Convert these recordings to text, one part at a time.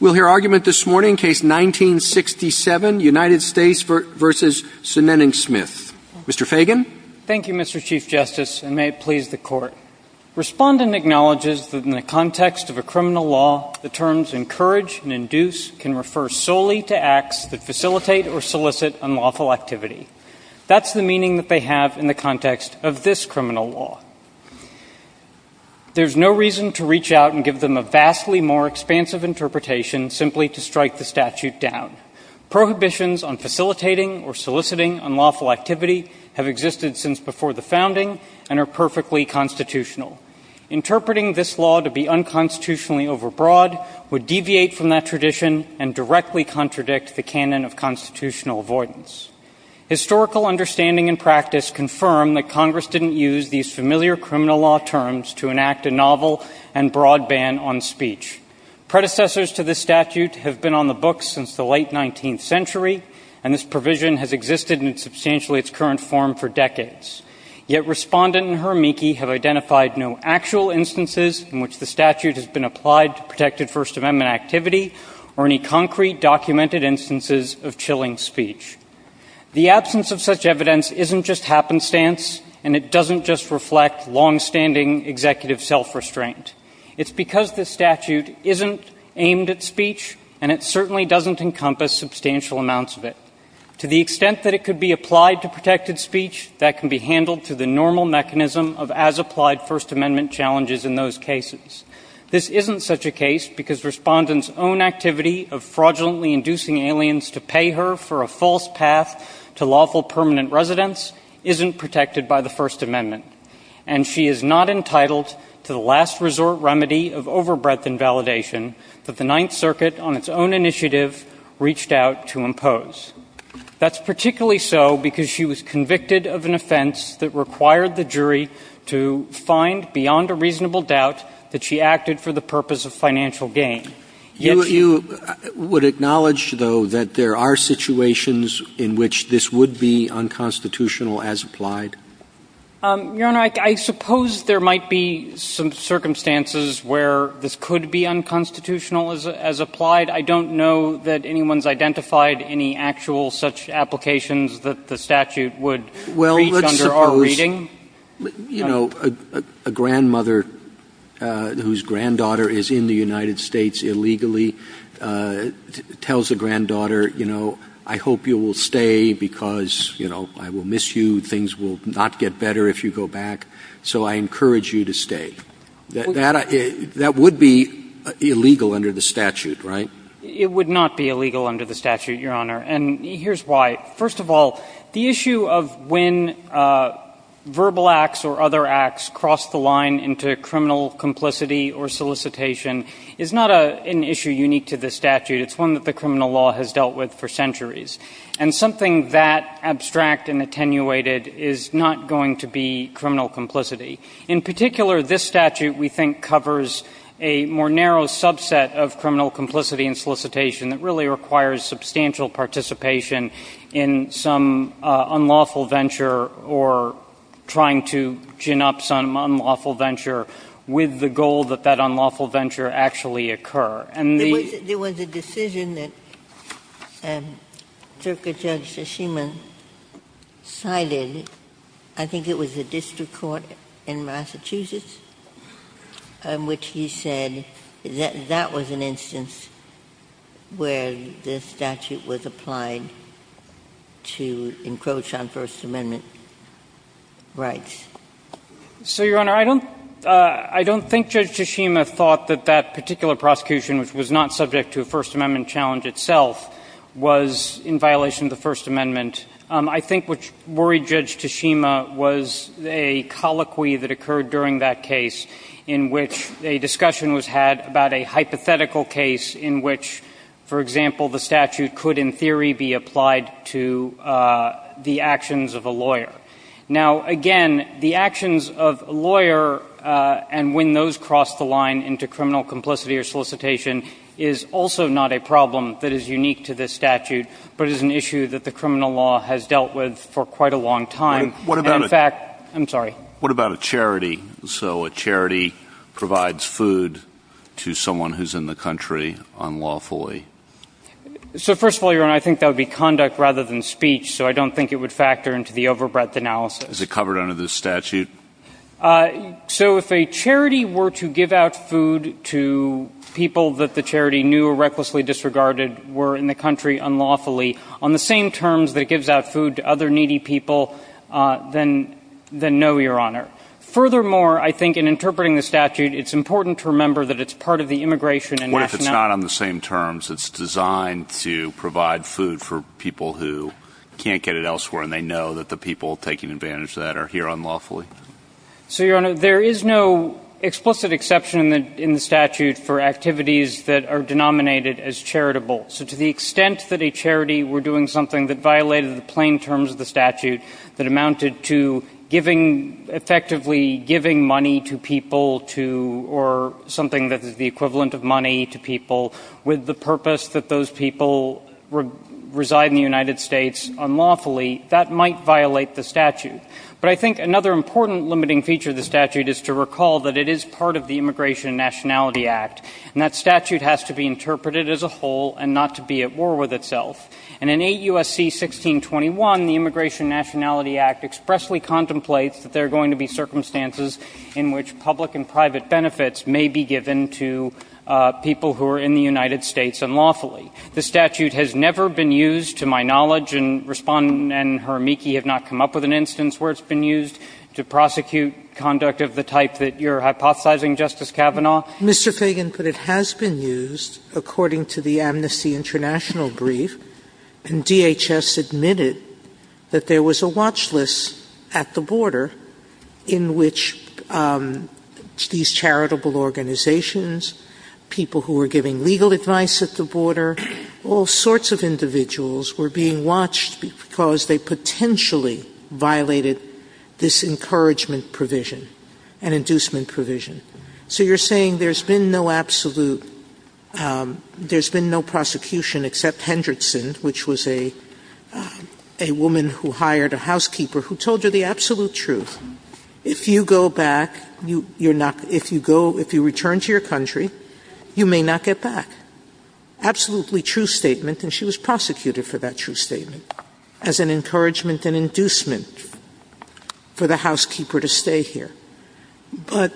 We'll hear argument this morning, case 1967, United States v. Sineneng-Smith. Mr. Fagan. Thank you, Mr. Chief Justice, and may it please the Court. Respondent acknowledges that in the context of a criminal law, the terms encourage and induce can refer solely to acts that facilitate or solicit unlawful activity. That's the meaning that they have in the context of this criminal law. There's no reason to reach out and give them a vastly more expansive interpretation simply to strike the statute down. Prohibitions on facilitating or soliciting unlawful activity have existed since before the founding and are perfectly constitutional. Interpreting this law to be unconstitutionally overbroad would deviate from that tradition and directly contradict the canon of constitutional avoidance. Historical understanding and practice confirm that Congress didn't use these familiar criminal law terms to enact a novel and broad ban on speech. Predecessors to this statute have been on the books since the late 19th century, and this provision has existed in substantially its current form for decades. Yet Respondent and her amici have identified no actual instances in which the statute has been applied to protected First Amendment activity or any concrete documented instances of chilling speech. The absence of such evidence isn't just happenstance, and it doesn't just reflect longstanding executive self-restraint. It's because this statute isn't aimed at speech, and it certainly doesn't encompass substantial amounts of it. To the extent that it could be applied to protected speech, that can be handled through the normal mechanism of as-applied First Amendment challenges in those cases. This isn't such a case because Respondent's own activity of fraudulently inducing aliens to pay her for a false path to lawful permanent residence isn't protected by the First Amendment. And she is not entitled to the last resort remedy of overbreadth invalidation that the Ninth Circuit, on its own initiative, reached out to impose. That's particularly so because she was convicted of an offense that required the jury to find beyond a reasonable doubt that she acted for the purpose of financial gain. You would acknowledge, though, that there are situations in which this would be unconstitutional as applied? Your Honor, I suppose there might be some circumstances where this could be unconstitutional as applied. I don't know that anyone's identified any actual such applications that the statute would reach under our reading. You know, a grandmother whose granddaughter is in the United States illegally tells a granddaughter, you know, I hope you will stay because, you know, I will miss you, things will not get better if you go back, so I encourage you to stay. That would be illegal under the statute, right? It would not be illegal under the statute, Your Honor, and here's why. First of all, the issue of when verbal acts or other acts cross the line into criminal complicity or solicitation is not an issue unique to this statute. It's one that the criminal law has dealt with for centuries, and something that abstract and attenuated is not going to be criminal complicity. In particular, this statute, we think, covers a more narrow subset of criminal complicity, which is the potential participation in some unlawful venture or trying to gin up some unlawful venture with the goal that that unlawful venture actually occur. And the ---- Ginsburg There was a decision that Circa Judge Shishima cited, I think it was a district court in Massachusetts, in which he said that that was an instance where the statute was applied to encroach on First Amendment rights. So, Your Honor, I don't think Judge Shishima thought that that particular prosecution, which was not subject to a First Amendment challenge itself, was in violation of the First Amendment. I think what worried Judge Shishima was a colloquy that occurred during that case in which a discussion was had about a hypothetical case in which, for example, the statute could, in theory, be applied to the actions of a lawyer. Now, again, the actions of a lawyer and when those cross the line into criminal complicity or solicitation is also not a problem that is unique to this statute, but is an issue that the criminal law has dealt with for quite a long time. And, in fact, I'm sorry. Kennedy What about a charity? So a charity provides food to someone who's in the country unlawfully. So, first of all, Your Honor, I think that would be conduct rather than speech, so I don't think it would factor into the over-breadth analysis. Is it covered under this statute? So if a charity were to give out food to people that the charity knew or recklessly disregarded were in the country unlawfully, on the same terms that it gives out food to other needy people, then no, Your Honor. Furthermore, I think in interpreting the statute, it's important to remember that it's part of the immigration and nationality... What if it's not on the same terms? It's designed to provide food for people who can't get it elsewhere and they know that the people taking advantage of that are here unlawfully. So, Your Honor, there is no explicit exception in the statute for activities that are denominated as charitable. So to the extent that a charity were doing something that violated the plain terms of the statute that amounted to giving, effectively giving money to people to, or something that is the equivalent of money to people with the purpose that those people reside in the United States unlawfully, that might violate the statute. But I think another important limiting feature of the statute is to recall that it is part of the Immigration and Nationality Act. And that statute has to be interpreted as a whole and not to be at war with itself. And in AUSC 1621, the Immigration and Nationality Act expressly contemplates that there are going to be circumstances in which public and private benefits may be given to people who are in the United States unlawfully. The statute has never been used, to my knowledge, and Respondent and her amici have not come up with an instance where it's been used to prosecute conduct of the type that you're hypothesizing, Justice Kavanaugh. Mr. Fagan, but it has been used according to the Amnesty International brief. And DHS admitted that there was a watch list at the border in which these charitable organizations, people who were giving legal advice at the border, all sorts of individuals were being watched because they potentially violated this encouragement provision, an inducement provision. So you're saying there's been no absolute, there's been no prosecution except for Ms. Henderson, which was a woman who hired a housekeeper who told her the absolute truth. If you go back, you're not, if you go, if you return to your country, you may not get back. Absolutely true statement, and she was prosecuted for that true statement as an encouragement and inducement for the housekeeper to stay here. But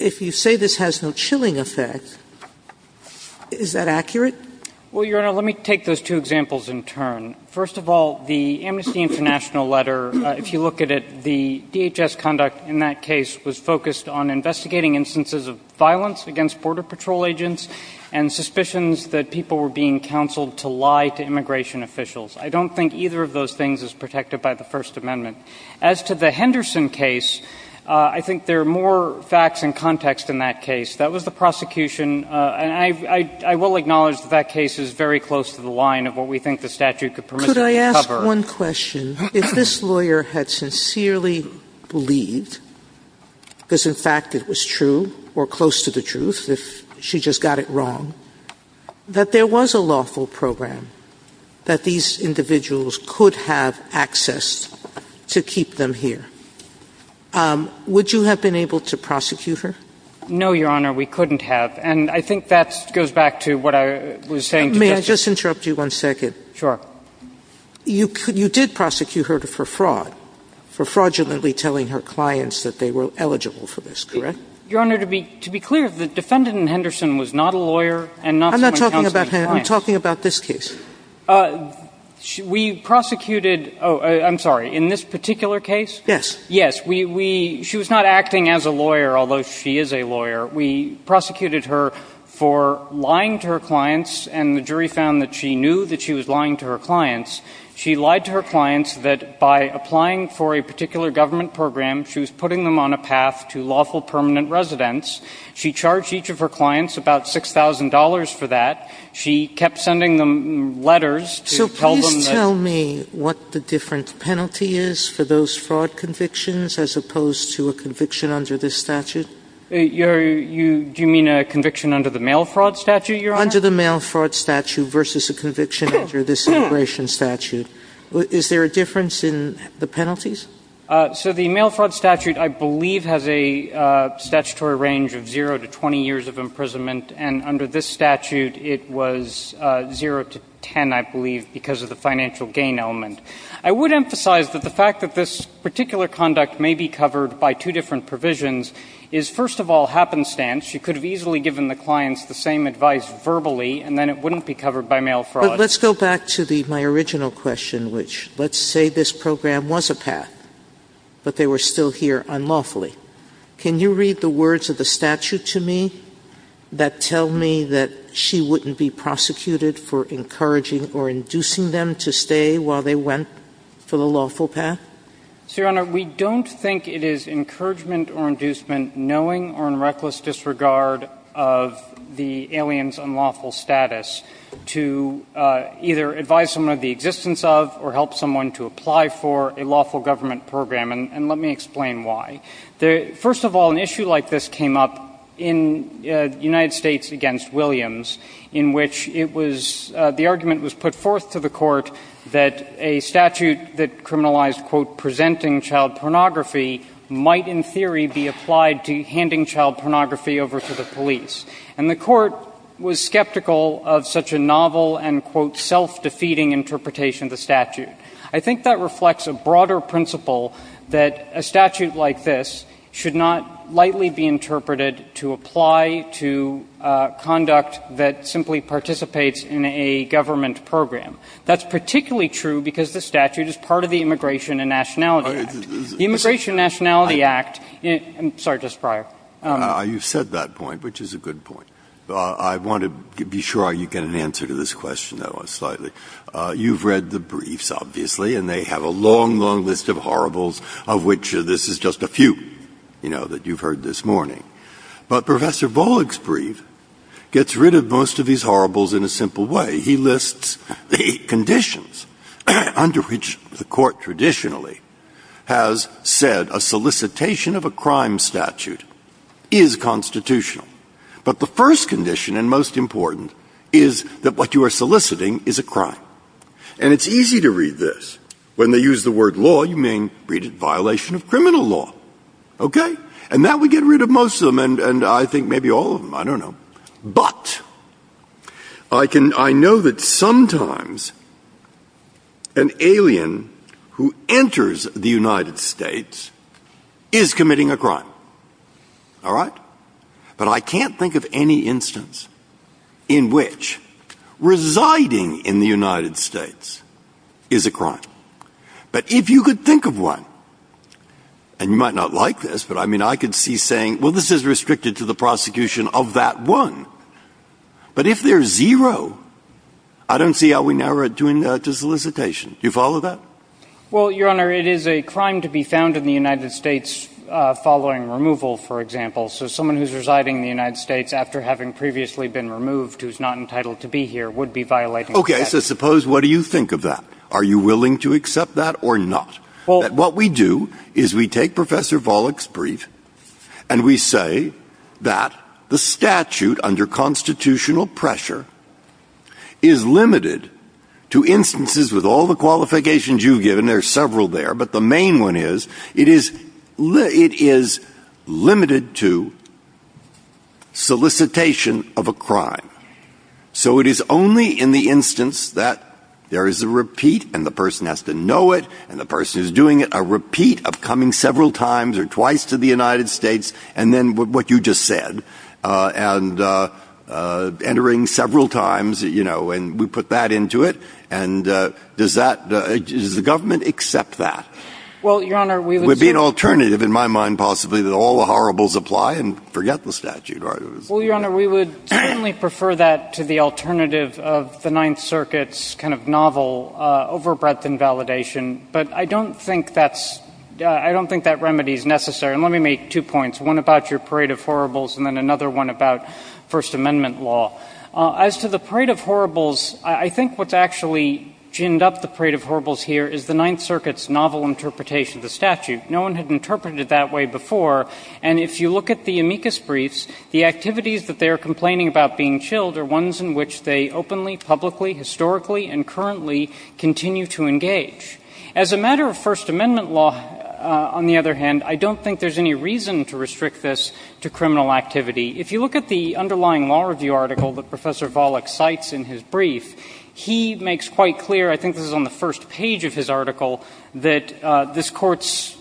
if you say this has no chilling effect, is that accurate? Well, Your Honor, let me take those two examples in turn. First of all, the Amnesty International letter, if you look at it, the DHS conduct in that case was focused on investigating instances of violence against border patrol agents and suspicions that people were being counseled to lie to immigration officials. I don't think either of those things is protected by the First Amendment. As to the Henderson case, I think there are more facts and context in that case. That was the prosecution, and I will acknowledge that that case is very close to the line of what we think the statute could permit us to cover. Could I ask one question? If this lawyer had sincerely believed, because in fact it was true or close to the truth, if she just got it wrong, that there was a lawful program that these individuals could have access to keep them here, would you have been able to prosecute her? No, Your Honor. We couldn't have. And I think that goes back to what I was saying to Justice Sotomayor. May I just interrupt you one second? Sure. You did prosecute her for fraud, for fraudulently telling her clients that they were eligible for this, correct? Your Honor, to be clear, the defendant in Henderson was not a lawyer and not someone who counseled clients. I'm not talking about her. I'm talking about this case. We prosecuted, oh, I'm sorry, in this particular case? Yes. She was not acting as a lawyer, although she is a lawyer. We prosecuted her for lying to her clients and the jury found that she knew that she was lying to her clients. She lied to her clients that by applying for a particular government program, she was putting them on a path to lawful permanent residence. She charged each of her clients about $6,000 for that. She kept sending them letters to tell them that So please tell me what the different penalty is for those fraud convictions as opposed to a conviction under this statute? Do you mean a conviction under the mail fraud statute, Your Honor? Under the mail fraud statute versus a conviction under this immigration statute. Is there a difference in the penalties? So the mail fraud statute, I believe, has a statutory range of 0 to 20 years of imprisonment and under this statute it was 0 to 10, I believe, because of the financial gain element. I would emphasize that the fact that this particular conduct may be covered by two different provisions is, first of all, happenstance. She could have easily given the clients the same advice verbally and then it wouldn't be covered by mail fraud. But let's go back to my original question, which let's say this program was a path, but they were still here unlawfully. Can you read the words of the statute to me that tell me that she wouldn't be prosecuted for encouraging or inducing them to stay while they went for the lawful path? So, Your Honor, we don't think it is encouragement or inducement, knowing or in reckless disregard of the alien's unlawful status, to either advise someone of the existence of or help someone to apply for a lawful government program. And let me explain why. First of all, an issue like this came up in the United States against Williams in which it was, the argument was put forth to the court that a statute that criminalized quote, presenting child pornography might in theory be applied to handing child pornography over to the police. And the court was skeptical of such a novel and quote, self-defeating interpretation of the statute. I think that reflects a broader principle that a statute like this should not lightly be interpreted to apply to conduct that simply participates in a government program. That's particularly true because the statute is part of the Immigration and Nationality Act. The Immigration and Nationality Act, sorry, just prior. You've said that point, which is a good point. I want to be sure you get an answer to this question, though, slightly. You've read the briefs, obviously, and they have a long, long list of horribles of which this is just a few, you know, that you've heard this morning. But Professor Bollig's brief gets rid of most of these horribles in a simple way. He lists the conditions under which the court traditionally has said a solicitation of a crime statute is constitutional. But the first condition and most important is that what you are soliciting is a crime. And it's easy to read this. When they use the word law, you may read it violation of criminal law. Okay? And that would get rid of most of them, and I think maybe all of them, I don't know. But I know that sometimes an alien who enters the United States is committing a crime. All right? But I can't think of any instance in which residing in the United States is a crime. But if you could think of one, and you might not like this, but I mean, I could see saying, well, this is restricted to the prosecution of that one. But if there's zero, I don't see how we narrow it to solicitation. Do you follow that? Well, Your Honor, it is a crime to be found in the United States following removal, for example. So someone who's residing in the United States after having previously been removed who's not entitled to be here would be violating the statute. Okay. So suppose, what do you think of that? Are you willing to accept that or not? Well, what we do is we take Professor Volokh's brief and we say that the statute under constitutional pressure is limited to instances with all the qualifications you've given. There are several there. But the main one is it is limited to solicitation of a crime. So it is only in the instance that there is a repeat and the person has to know it and the person who's doing it, a repeat of coming several times or twice to the United States and then what you just said and entering several times, you know, and we put that into it. And does that, does the government accept that? Well, Your Honor, we would certainly. It would be an alternative in my mind, possibly, that all the horribles apply and forget the statute. Well, Your Honor, we would certainly prefer that to the alternative of the Ninth Circuit's kind of novel over breadth invalidation. But I don't think that's, I don't think that remedy is necessary. And let me make two points. One about your parade of horribles and then another one about First Amendment law. As to the parade of horribles, I think what's actually ginned up the parade of horribles here is the Ninth Circuit's novel interpretation of the statute. No one had interpreted it that way before. And if you look at the amicus briefs, the activities that they are complaining about being chilled are ones in which they openly, publicly, historically and currently continue to engage. As a matter of First Amendment law, on the other hand, I don't think there's any reason to restrict this to criminal activity. If you look at the underlying law review article that Professor Volokh cites in his brief, he makes quite clear, I think this is on the first page of his article, that this Court's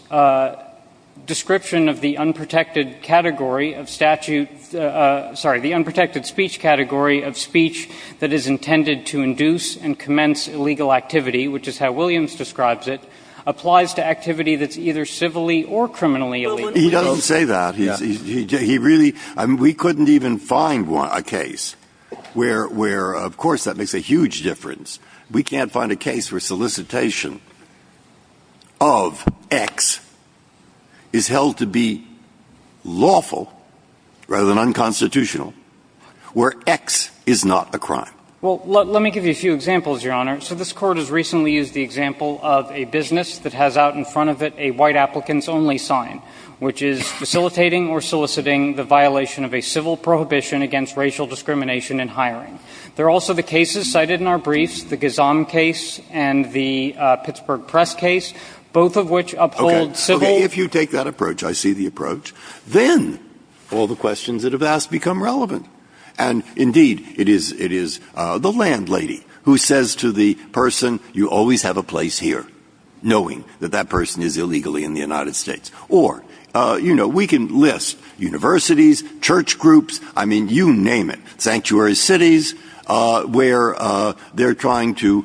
description of the unprotected category of statute, sorry, the unprotected speech category of speech that is intended to induce and commence illegal activity, which is how Williams describes it, applies to activity that's either civilly or criminally illegal. Breyer. He doesn't say that. He really, we couldn't even find a case where, of course, that makes a huge difference. We can't find a case where solicitation of X is held to be lawful rather than unconstitutional, where X is not a crime. Well, let me give you a few examples, Your Honor. So this Court has recently used the example of a business that has out in front of it a white applicants only sign, which is facilitating or soliciting the violation of a civil prohibition against racial discrimination in hiring. There are also the cases cited in our briefs, the Gazan case and the Pittsburgh press case, both of which uphold civil. Okay. If you take that approach, I see the approach, then all the questions that have asked become relevant. And, indeed, it is the landlady who says to the person, you always have a place here, knowing that that person is illegally in the United States. Or, you know, we can list universities, church groups, I mean, you name it, sanctuary cities, where they're trying to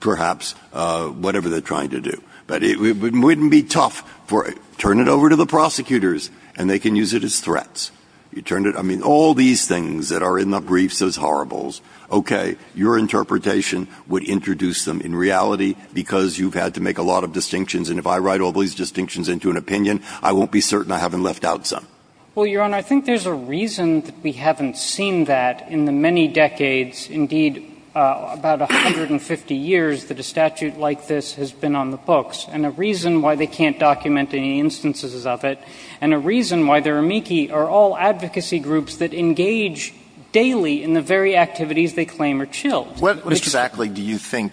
perhaps whatever they're trying to do. But it wouldn't be tough for it. Turn it over to the prosecutors, and they can use it as threats. You turn it, I mean, all these things that are in the briefs as horribles. Okay. Your interpretation would introduce them in reality, because you've had to make a lot of distinctions. And if I write all these distinctions into an opinion, I won't be certain I haven't left out some. Well, Your Honor, I think there's a reason that we haven't seen that in the many decades, indeed, about 150 years, that a statute like this has been on the books. And a reason why they can't document any instances of it, and a reason why they're amici are all advocacy groups that engage daily in the very activities they claim are chilled. What exactly do you think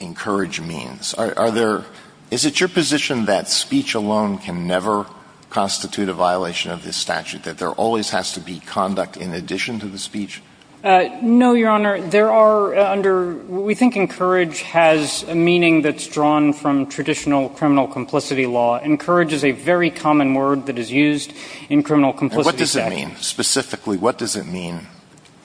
encourage means? Are there – is it your position that speech alone can never constitute a violation of this statute, that there always has to be conduct in addition to the speech? No, Your Honor. There are under – we think encourage has a meaning that's drawn from traditional criminal complicity law. Encourage is a very common word that is used in criminal complicity statute. And what does it mean? Specifically, what does it mean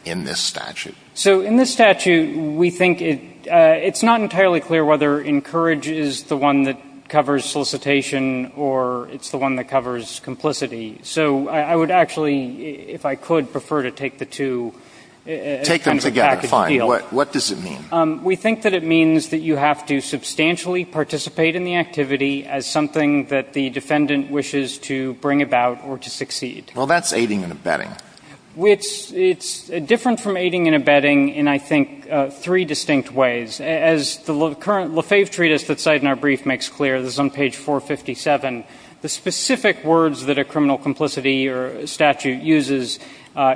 in this statute? So, in this statute, we think it's not entirely clear whether encourage is the one that covers solicitation or it's the one that covers complicity. So, I would actually, if I could, prefer to take the two – Take them together, fine. What does it mean? We think that it means that you have to substantially participate in the activity as something that the defendant wishes to bring about or to succeed. Well, that's aiding and abetting. It's different from aiding and abetting in, I think, three distinct ways. As the current Lefebvre treatise that's cited in our brief makes clear, this is on page 457, the specific words that a criminal complicity statute uses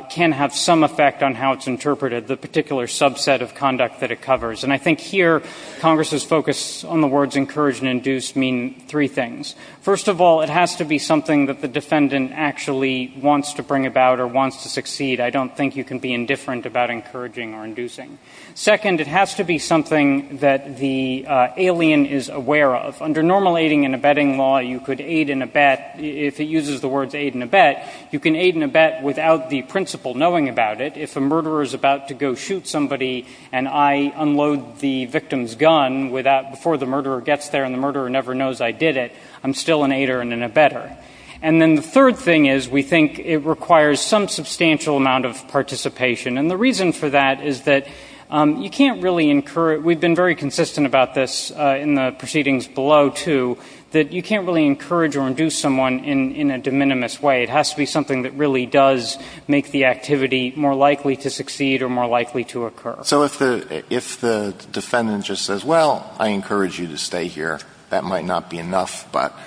can have some effect on how it's interpreted, the particular subset of conduct that it covers. And I think here, Congress's focus on the words encourage and induce mean three things. First of all, it has to be something that the defendant actually wants to bring about or wants to succeed. I don't think you can be indifferent about encouraging or inducing. Second, it has to be something that the alien is aware of. Under normal aiding and abetting law, you could aid and abet – if it uses the words aid and abet, you can aid and abet without the principal knowing about it. If a murderer is about to go shoot somebody and I unload the victim's gun before the murderer gets there and the murderer never knows I did it, I'm still an aider and an abetter. And then the third thing is we think it requires some substantial amount of participation. And the reason for that is that you can't really encourage – we've been very consistent about this in the proceedings below, too, that you can't really encourage or induce someone in a de minimis way. It has to be something that really does make the activity more likely to succeed or more likely to occur. So if the defendant just says, well, I encourage you to stay here, that might not be enough. But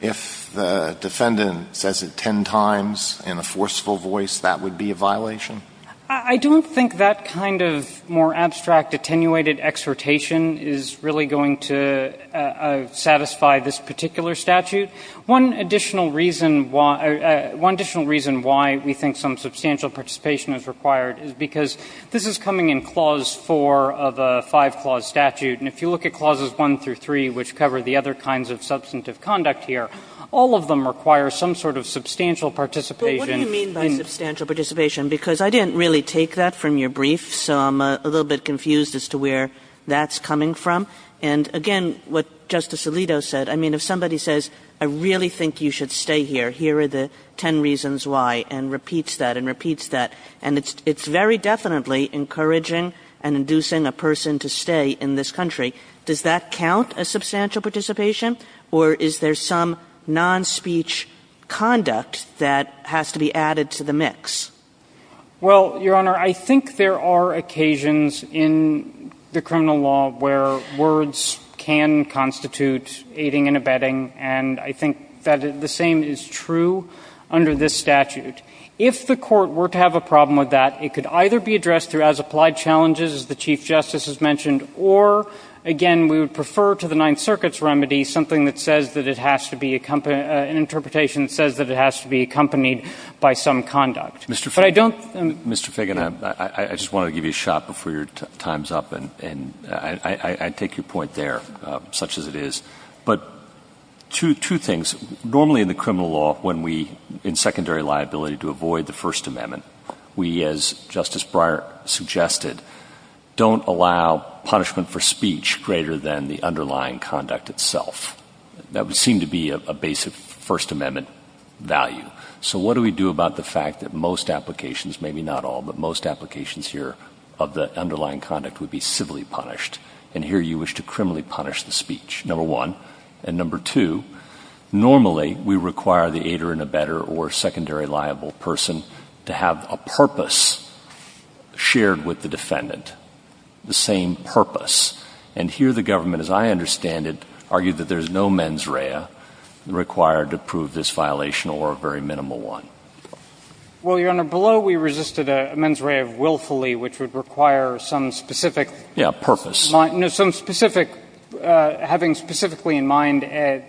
if the defendant says it ten times in a forceful voice, that would be a violation? I don't think that kind of more abstract, attenuated exhortation is really going to satisfy this particular statute. One additional reason why – one additional reason why we think some substantial participation is required is because this is coming in Clause 4 of a five-clause statute. And if you look at Clauses 1 through 3, which cover the other kinds of substantive conduct here, all of them require some sort of substantial participation. What do you mean by substantial participation? Because I didn't really take that from your brief, so I'm a little bit confused as to where that's coming from. And again, what Justice Alito said, I mean, if somebody says, I really think you should stay here, here are the ten reasons why, and repeats that and repeats that, and it's very definitely encouraging and inducing a person to stay in this country, does that count as substantial participation? Or is there some non-speech conduct that has to be added to the mix? Well, Your Honor, I think there are occasions in the criminal law where words can constitute aiding and abetting, and I think that the same is true under this statute. If the Court were to have a problem with that, it could either be addressed through as-applied challenges, as the Chief Justice has mentioned, or, again, we would refer to the Ninth Circuit's remedy something that says that it has to be accompanied, an interpretation that says that it has to be accompanied by some conduct. Mr. Fagan, I just want to give you a shot before your time's up, and I take your point there, such as it is. But two things. Normally in the criminal law, when we, in secondary liability, to avoid the First Amendment, we, as Justice Breyer suggested, don't allow punishment for the underlying conduct itself. That would seem to be a basic First Amendment value. So what do we do about the fact that most applications, maybe not all, but most applications here of the underlying conduct would be civilly punished? And here you wish to criminally punish the speech, number one. And number two, normally we require the aider and abetter or secondary liable person to have a purpose shared with the defendant, the same purpose. And here the government, as I understand it, argued that there's no mens rea required to prove this violation or a very minimal one. Well, Your Honor, below we resisted a mens rea of willfully, which would require some specific purpose. Yeah, purpose. No, some specific, having specifically in mind a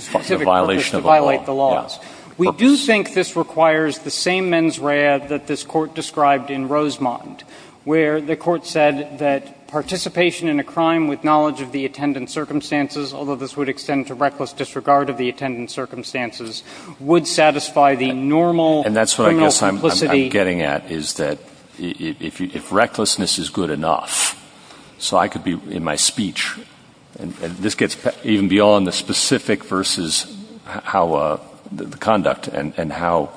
specific purpose to violate the laws. Purpose. We do think this requires the same mens rea that this Court described in a crime with knowledge of the attendant circumstances, although this would extend to reckless disregard of the attendant circumstances, would satisfy the normal criminal complicity. And that's what I guess I'm getting at, is that if recklessness is good enough, so I could be in my speech, and this gets even beyond the specific versus how the conduct and how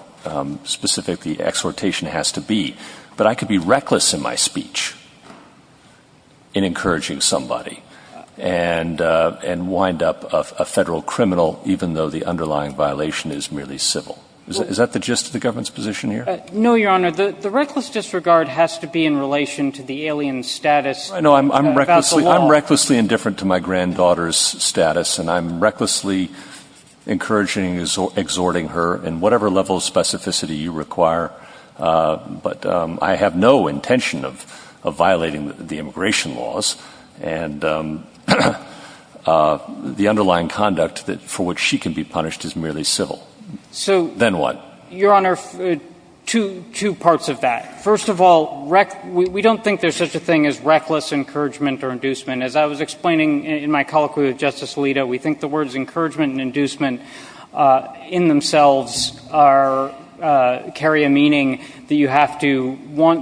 specific the exhortation has to be, but I could be reckless in my speech in encouraging somebody and wind up a Federal criminal, even though the underlying violation is merely civil. Is that the gist of the government's position here? No, Your Honor. The reckless disregard has to be in relation to the alien status about the law. I'm recklessly indifferent to my granddaughter's status, and I'm recklessly encouraging, exhorting her in whatever level of specificity you If she has no intention of violating the immigration laws, and the underlying conduct for which she can be punished is merely civil, then what? So, Your Honor, two parts of that. First of all, we don't think there's such a thing as reckless encouragement or inducement. As I was explaining in my colloquy with Justice Alito, we think the words encouragement and inducement in themselves carry a meaning that you have to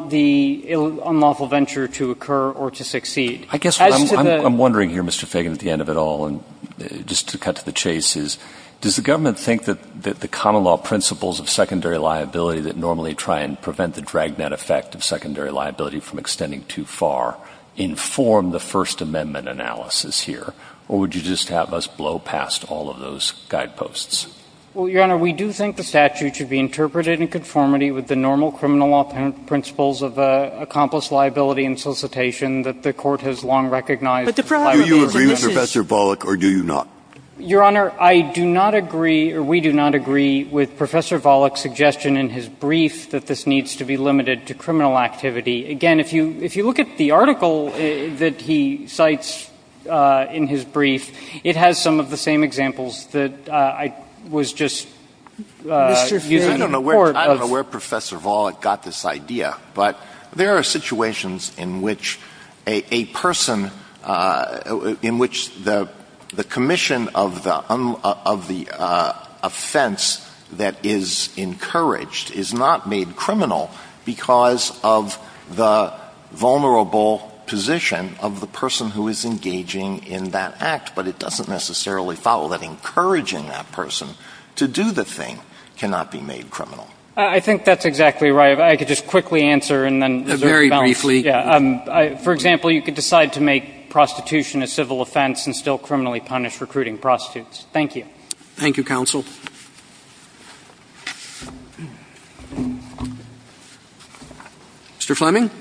the unlawful venture to occur or to succeed. I guess what I'm wondering here, Mr. Fagan, at the end of it all, and just to cut to the chase, is does the government think that the common law principles of secondary liability that normally try and prevent the dragnet effect of secondary liability from extending too far inform the First Amendment analysis here, or would you just have us blow past all of those guideposts? Well, Your Honor, we do think the statute should be interpreted in conformity with the normal criminal law principles of accomplice liability and solicitation that the Court has long recognized. Do you agree with Professor Volokh, or do you not? Your Honor, I do not agree, or we do not agree, with Professor Volokh's suggestion in his brief that this needs to be limited to criminal activity. Again, if you look at the article that he cites in his brief, it has some of the same examples that I was just using in court. I don't know where Professor Volokh got this idea, but there are situations in which a person, in which the commission of the offense that is encouraged is not made criminal because of the vulnerable position of the person who is engaging in that act, but it doesn't necessarily follow that encouraging that person to do the thing cannot be made criminal. I think that's exactly right. If I could just quickly answer and then reserve the balance. Very briefly. For example, you could decide to make prostitution a civil offense and still criminally punish recruiting prostitutes. Thank you. Thank you, counsel. Mr. Fleming.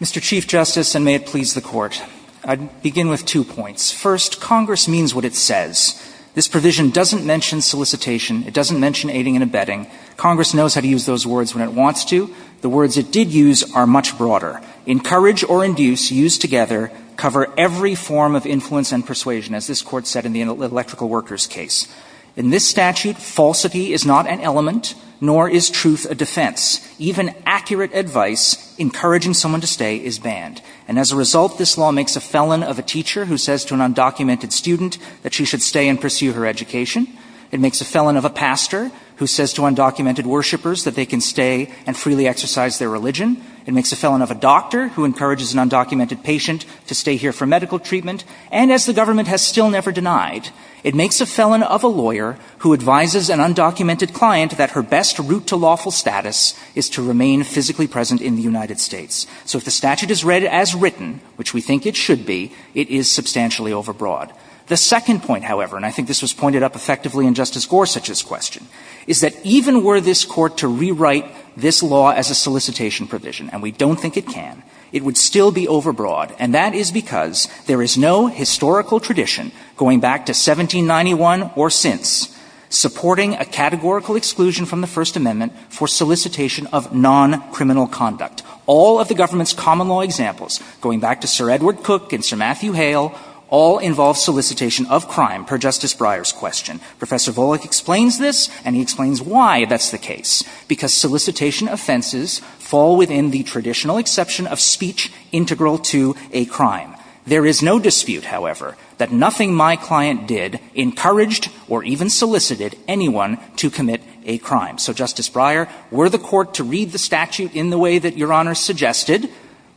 Mr. Chief Justice, and may it please the Court, I'd begin with two points. First, Congress means what it says. This provision doesn't mention solicitation. It doesn't mention aiding and abetting. Congress knows how to use those words when it wants to. The words it did use are much broader. Encourage or induce, used together, cover every form of influence and persuasion, as this Court said in the electrical workers case. In this statute, falsity is not an element, nor is truth a defense. Even accurate advice encouraging someone to stay is banned. And as a result, this law makes a felon of a teacher who says to an undocumented student that she should stay and pursue her education. It makes a felon of a pastor who says to undocumented worshipers that they can stay and freely exercise their religion. It makes a felon of a doctor who encourages an undocumented patient to stay here for medical treatment. And as the government has still never denied, it makes a felon of a lawyer who advises an undocumented client that her best route to lawful status is to remain physically present in the United States. So if the statute is read as written, which we think it should be, it is substantially overbroad. The second point, however, and I think this was pointed up effectively in Justice Gorsuch's question, is that even were this Court to rewrite this law as a solicitation provision, and we don't think it can, it would still be overbroad. And that is because there is no historical tradition going back to 1791 or since supporting a categorical exclusion from the First Amendment for solicitation of non-criminal conduct. All of the government's common law examples, going back to Sir Edward Cook and Sir George Gershwin, all of them have a historical tradition of solicitation of crime per Justice Breyer's question. Professor Volokh explains this, and he explains why that's the case, because solicitation offenses fall within the traditional exception of speech integral to a crime. There is no dispute, however, that nothing my client did encouraged or even solicited anyone to commit a crime. So, Justice Breyer, were the Court to read the statute in the way that Your Honor suggested,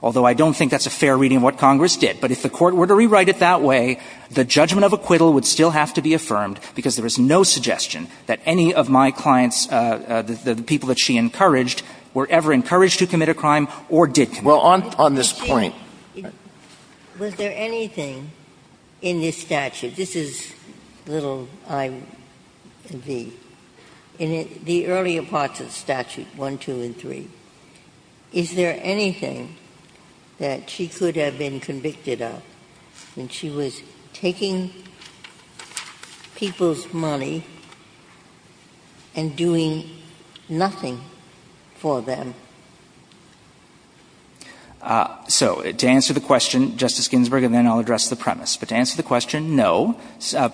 although I don't think that's a fair reading of what Congress did, but if the Court were to rewrite it that way, the judgment of acquittal would still have to be affirmed because there is no suggestion that any of my clients, the people that she encouraged, were ever encouraged to commit a crime or did commit a crime. Well, on this point. Was there anything in this statute? This is little i, v. In the earlier parts of the statute, 1, 2, and 3, is there anything that she could have been convicted of when she was taking people's money and doing nothing for them? So, to answer the question, Justice Ginsburg, and then I'll address the premise, but to answer the question, no.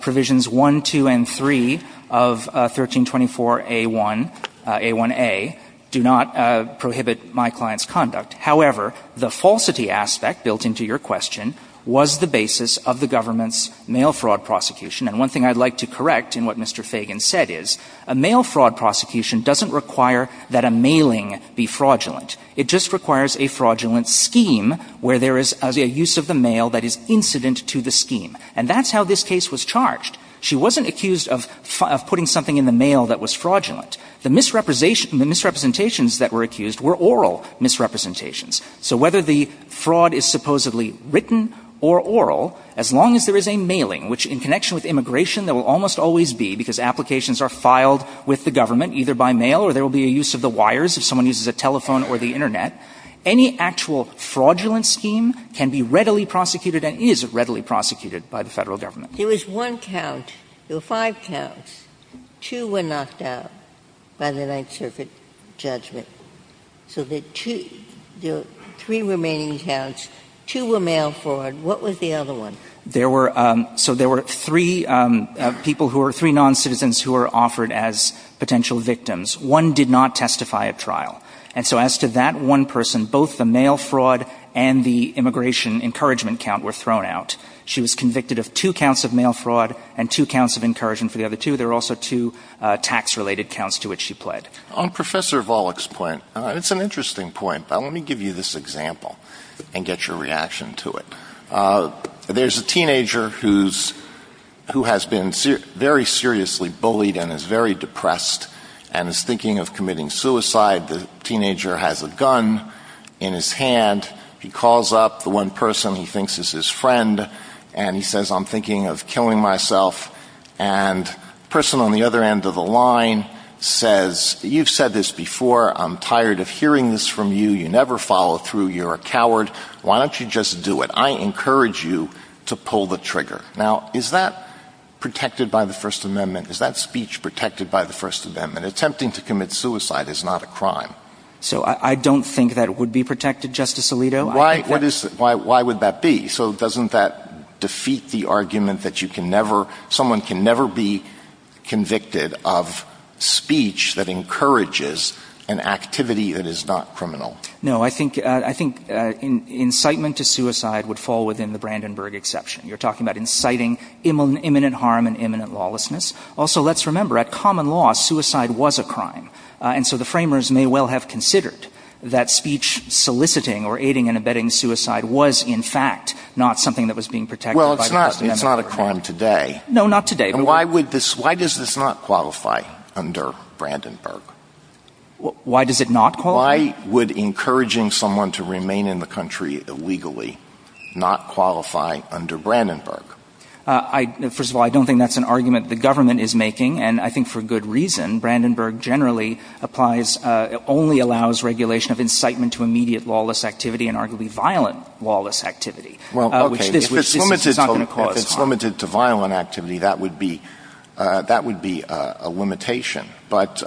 Provisions 1, 2, and 3 of 1324a1a do not prohibit my client's conduct. However, the falsity aspect built into your question was the basis of the government's mail fraud prosecution, and one thing I'd like to correct in what Mr. Fagan said is, a mail fraud prosecution doesn't require that a mailing be fraudulent. It just requires a fraudulent scheme where there is a use of the mail that is incident to the scheme. And that's how this case was charged. She wasn't accused of putting something in the mail that was fraudulent. The misrepresentations that were accused were oral misrepresentations. So whether the fraud is supposedly written or oral, as long as there is a mailing, which in connection with immigration there will almost always be, because applications are filed with the government either by mail or there will be a use of the wires if someone uses a telephone or the internet, any actual fraudulent scheme can be readily prosecuted and is readily prosecuted by the federal government. There was one count. There were five counts. Two were knocked out by the Ninth Circuit judgment. So there are three remaining counts. Two were mail fraud. What was the other one? So there were three people who were three noncitizens who were offered as potential victims. One did not testify at trial. And so as to that one person, both the mail fraud and the immigration encouragement count were thrown out. She was convicted of two counts of mail fraud and two counts of encouragement for the other two. There were also two tax-related counts to which she pled. On Professor Volokh's point, it's an interesting point, but let me give you this example and get your reaction to it. There's a teenager who has been very seriously bullied and is very depressed and is thinking of committing suicide. The teenager has a gun in his hand. He calls up the one person he thinks is his friend and he says, I'm thinking of killing myself. And the person on the other end of the line says, you've said this before. I'm tired of hearing this from you. You never follow through. You're a coward. Why don't you just do it? I encourage you to pull the trigger. Now, is that protected by the First Amendment? Is that speech protected by the First Amendment? Attempting to commit suicide is not a crime. So I don't think that would be protected, Justice Alito. Why would that be? So doesn't that defeat the argument that you can never, someone can never be convicted of speech that encourages an activity that is not criminal? No. I think incitement to suicide would fall within the Brandenburg exception. You're talking about inciting imminent harm and imminent lawlessness. Also, let's remember, at common law, suicide was a crime. And so the framers may well have considered that speech soliciting or aiding and abetting suicide was, in fact, not something that was being protected by the First Amendment. Well, it's not a crime today. No, not today. Why does this not qualify under Brandenburg? Why does it not qualify? Why would encouraging someone to remain in the country illegally not qualify under Brandenburg? First of all, I don't think that's an argument the government is making. And I think for good reason. Brandenburg generally applies, only allows regulation of incitement to immediate lawless activity and arguably violent lawless activity. Well, okay. Which this is not going to cause harm. If it's limited to violent activity, that would be a limitation. But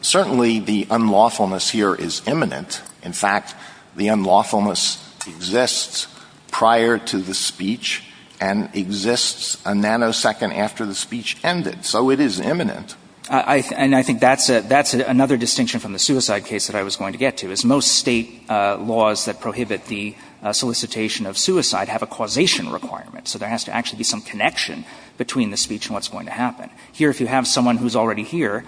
certainly the unlawfulness here is imminent. In fact, the unlawfulness exists prior to the speech and exists a nanosecond after the speech ended. So it is imminent. And I think that's another distinction from the suicide case that I was going to get to, is most state laws that prohibit the solicitation of suicide have a causation requirement. So there has to actually be some connection between the speech and what's going to happen. Here, if you have someone who's already here,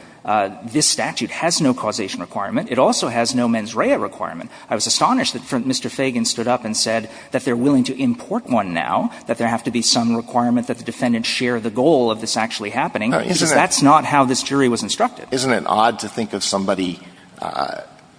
this statute has no causation requirement. It also has no mens rea requirement. I was astonished that Mr. Fagan stood up and said that they're willing to import one now, that there have to be some requirement that the defendant share the goal of this actually happening, because that's not how this jury was instructed. Isn't it odd to think of somebody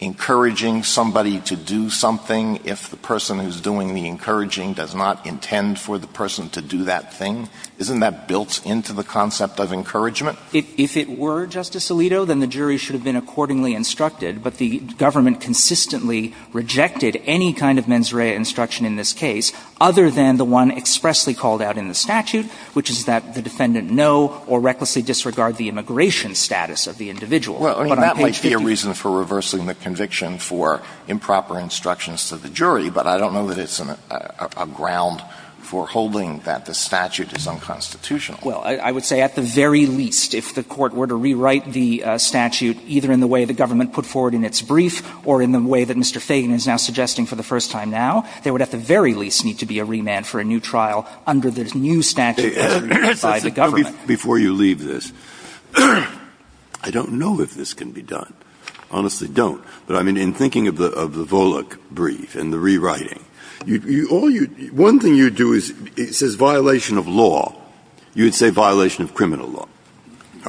encouraging somebody to do something if the person who's doing the encouraging does not intend for the person to do that thing? Isn't that built into the concept of encouragement? If it were, Justice Alito, then the jury should have been accordingly instructed, but the government consistently rejected any kind of mens rea instruction in this case, other than the one expressly called out in the statute, which is that the defendant know or recklessly disregard the immigration status of the individual. But on page 50 of the statute, there's no reason for reversing the conviction for improper instructions to the jury, but I don't know that it's a ground for holding that the statute is unconstitutional. Well, I would say at the very least, if the Court were to rewrite the statute either in the way the government put forward in its brief or in the way that Mr. Fagan is now suggesting for the first time now, there would at the very least need to be a remand for a new trial under the new statute by the government. Before you leave this, I don't know if this can be done. Honestly, don't. But, I mean, in thinking of the Volokh brief and the rewriting, all you one thing you'd do is, it says violation of law, you'd say violation of criminal law.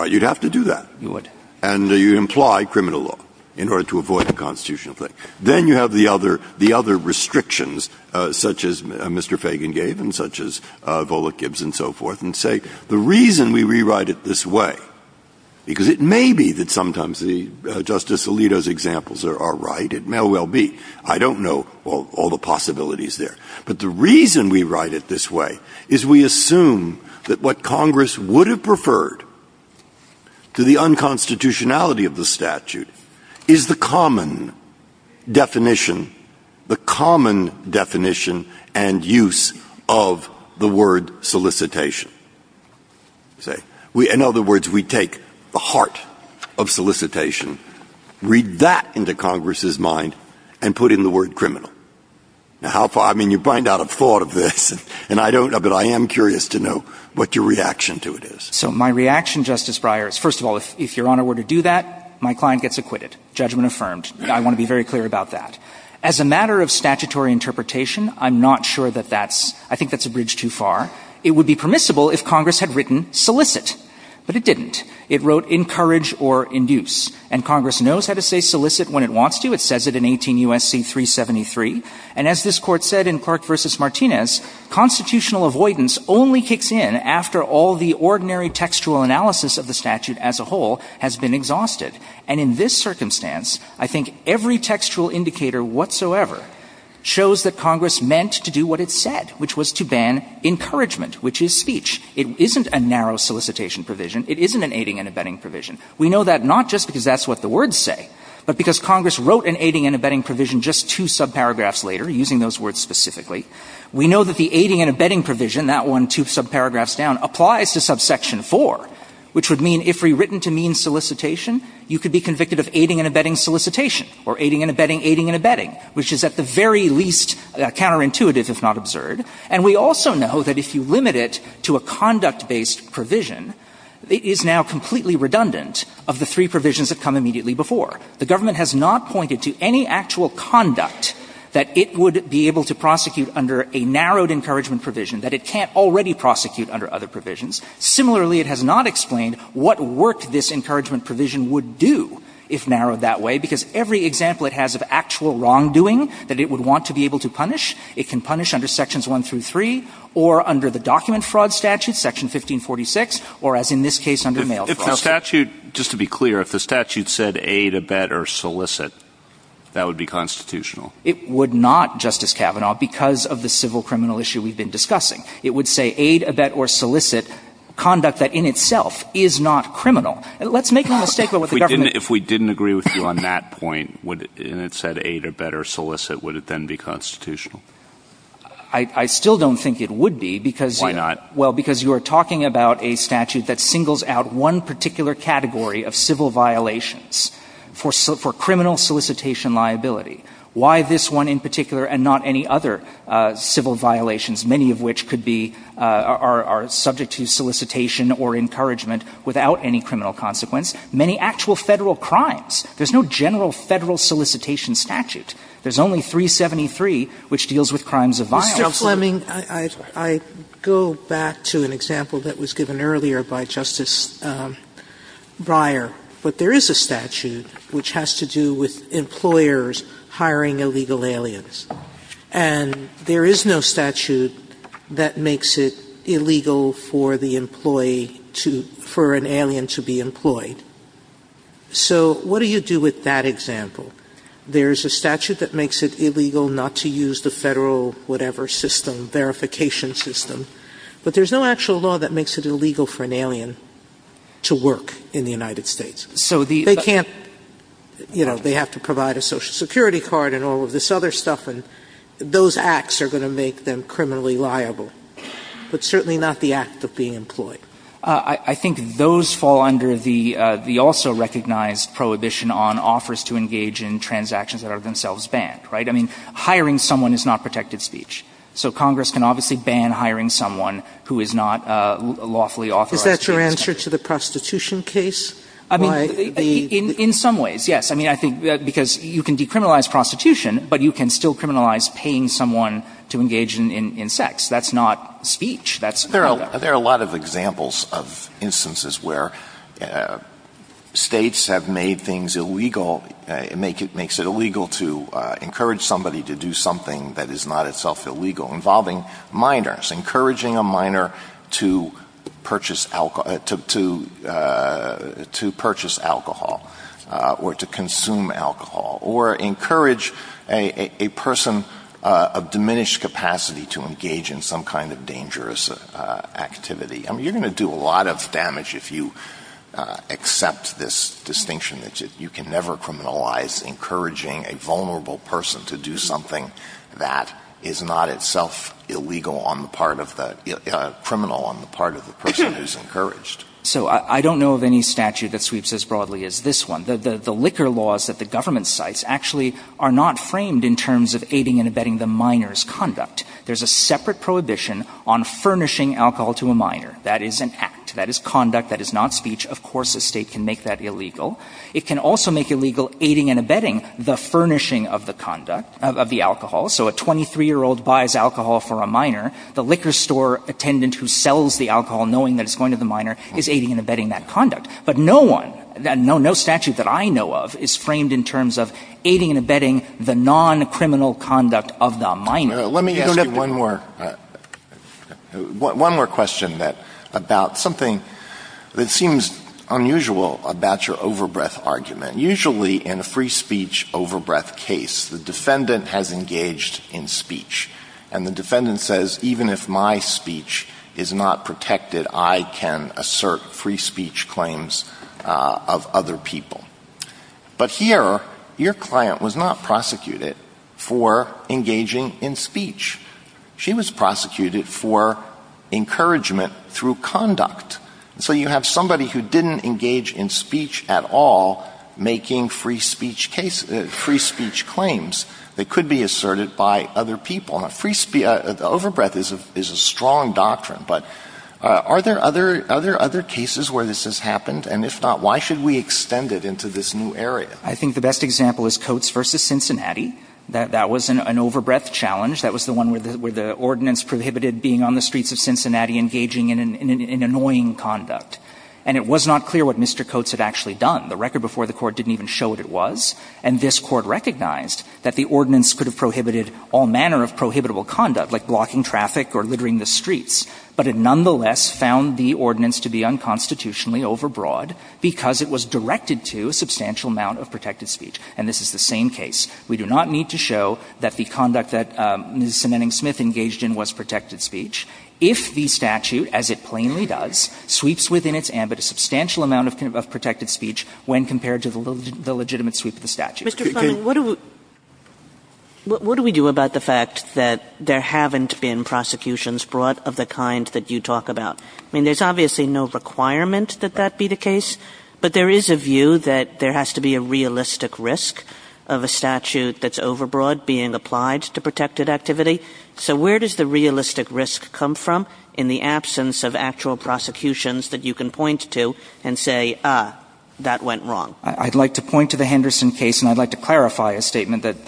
You'd have to do that. You would. And you imply criminal law in order to avoid the constitutional thing. Then you have the other restrictions, such as Mr. Fagan gave and such as Volokh Gibbs and so forth, and say the reason we rewrite it this way, because it may be that sometimes Justice Alito's examples are right, it may well be. I don't know all the possibilities there. But the reason we write it this way is we assume that what Congress would have preferred to the unconstitutionality of the statute is the common definition, the common definition and use of the word solicitation. In other words, we take the heart of solicitation, read that into Congress's mind, and put in the word criminal. Now, I mean, you bring out a thought of this, and I don't know, but I am curious to know what your reaction to it is. So my reaction, Justice Breyer, is first of all, if Your Honor were to do that, my client gets acquitted. Judgment affirmed. I want to be very clear about that. As a matter of statutory interpretation, I'm not sure that that's, I think that's a bridge too far. It would be permissible if Congress had written solicit. But it didn't. It wrote encourage or induce. And Congress knows how to say solicit when it wants to. It says it in 18 U.S.C. 373. And as this Court said in Clark v. Martinez, constitutional avoidance only kicks in after all the ordinary textual analysis of the statute as a whole has been exhausted. And in this circumstance, I think every textual indicator whatsoever shows that Congress meant to do what it said, which was to ban encouragement, which is speech. It isn't a narrow solicitation provision. It isn't an aiding and abetting provision. We know that not just because that's what the words say, but because Congress wrote an aiding and abetting provision just two subparagraphs later, using those words specifically. We know that the aiding and abetting provision, that one two subparagraphs down, applies to subsection 4, which would mean if rewritten to mean solicitation, you could be convicted of aiding and abetting solicitation or aiding and abetting aiding and abetting, which is at the very least counterintuitive, if not absurd. And we also know that if you limit it to a conduct-based provision, it is now completely redundant of the three provisions that come immediately before. The government has not pointed to any actual conduct that it would be able to prosecute under a narrowed encouragement provision, that it can't already prosecute under other provisions. Similarly, it has not explained what work this encouragement provision would do if narrowed that way, because every example it has of actual wrongdoing that it would want to be able to punish, it can punish under sections 1 through 3 or under the document that it would want to be able to prosecute. If the statute, just to be clear, if the statute said aid, abet, or solicit, that would be constitutional? It would not, Justice Kavanaugh, because of the civil criminal issue we've been discussing. It would say aid, abet, or solicit conduct that in itself is not criminal. Let's make no mistake about what the government... If we didn't agree with you on that point, and it said aid, abet, or solicit, would it then be constitutional? I still don't think it would be, because... Why not? Well, because you are talking about a statute that singles out one particular category of civil violations for criminal solicitation liability. Why this one in particular and not any other civil violations, many of which could be or are subject to solicitation or encouragement without any criminal consequence? Many actual Federal crimes. There's no general Federal solicitation statute. There's only 373, which deals with crimes of violence. Mr. Fleming, I go back to an example that was given earlier by Justice Breyer. But there is a statute which has to do with employers hiring illegal aliens. And there is no statute that makes it illegal for the employee to, for an alien to be employed. So what do you do with that example? There's a statute that makes it illegal not to use the Federal whatever system, verification system. But there's no actual law that makes it illegal for an alien to work in the United States. So they can't, you know, they have to provide a Social Security card and all of this other stuff. And those acts are going to make them criminally liable. But certainly not the act of being employed. I think those fall under the also recognized prohibition on offers to engage in transactions that are themselves banned, right? I mean, hiring someone is not protected speech. So Congress can obviously ban hiring someone who is not lawfully authorized. Is that your answer to the prostitution case? I mean, in some ways, yes. I mean, I think because you can decriminalize prostitution, but you can still criminalize paying someone to engage in sex. That's not speech. There are a lot of examples of instances where states have made things illegal, makes it illegal to encourage somebody to do something that is not itself illegal, involving minors. Encouraging a minor to purchase alcohol or to consume alcohol. Or encourage a person of diminished capacity to engage in some kind of dangerous activity. I mean, you're going to do a lot of damage if you accept this distinction that you can never criminalize encouraging a vulnerable person to do something that is not itself illegal on the part of the criminal, on the part of the person who's encouraged. So I don't know of any statute that sweeps as broadly as this one. The liquor laws that the government cites actually are not framed in terms of aiding and abetting the minor's conduct. There's a separate prohibition on furnishing alcohol to a minor. That is an act. That is conduct. That is not speech. Of course a state can make that illegal. It can also make illegal aiding and abetting the furnishing of the conduct, of the alcohol. So a 23-year-old buys alcohol for a minor. The liquor store attendant who sells the alcohol, knowing that it's going to the minor, is aiding and abetting that conduct. But no one, no statute that I know of, is framed in terms of aiding and abetting the non-criminal conduct of the minor. Let me ask you one more question about something that seems unusual about your overbreath argument. Usually in a free speech overbreath case, the defendant has engaged in speech. And the defendant says, even if my speech is not protected, I can assert free speech claims of other people. But here, your client was not prosecuted for engaging in speech. She was prosecuted for encouragement through conduct. So you have somebody who didn't engage in speech at all making free speech claims that could be asserted by other people. Overbreath is a strong doctrine, but are there other cases where this has happened? And if not, why should we extend it into this new area? I think the best example is Coates v. Cincinnati. That was an overbreath challenge. That was the one where the ordinance prohibited being on the streets of Cincinnati engaging in an annoying conduct. And it was not clear what Mr. Coates had actually done. The record before the Court didn't even show what it was. And this Court recognized that the ordinance could have prohibited all manner of prohibitable conduct, like blocking traffic or littering the streets, but it nonetheless found the ordinance to be unconstitutionally overbroad because it was directed to a substantial amount of protected speech. And this is the same case. We do not need to show that the conduct that Ms. Semening Smith engaged in was protected speech if the statute, as it plainly does, sweeps within its ambit a substantial amount of protected speech when compared to the legitimate sweep of the statute. Kagan. Kagan. Kagan. Kagan. What do we do about the fact that there haven't been prosecutions brought of the kind that you talk about? I mean, there's obviously no requirement that that be the case, but there is a view that there has to be a realistic risk of a statute that's overbroad being applied to protected activity. So where does the realistic risk come from in the absence of actual prosecutions that you can point to and say, ah, that went wrong? I'd like to point to the Henderson case, and I'd like to clarify a statement that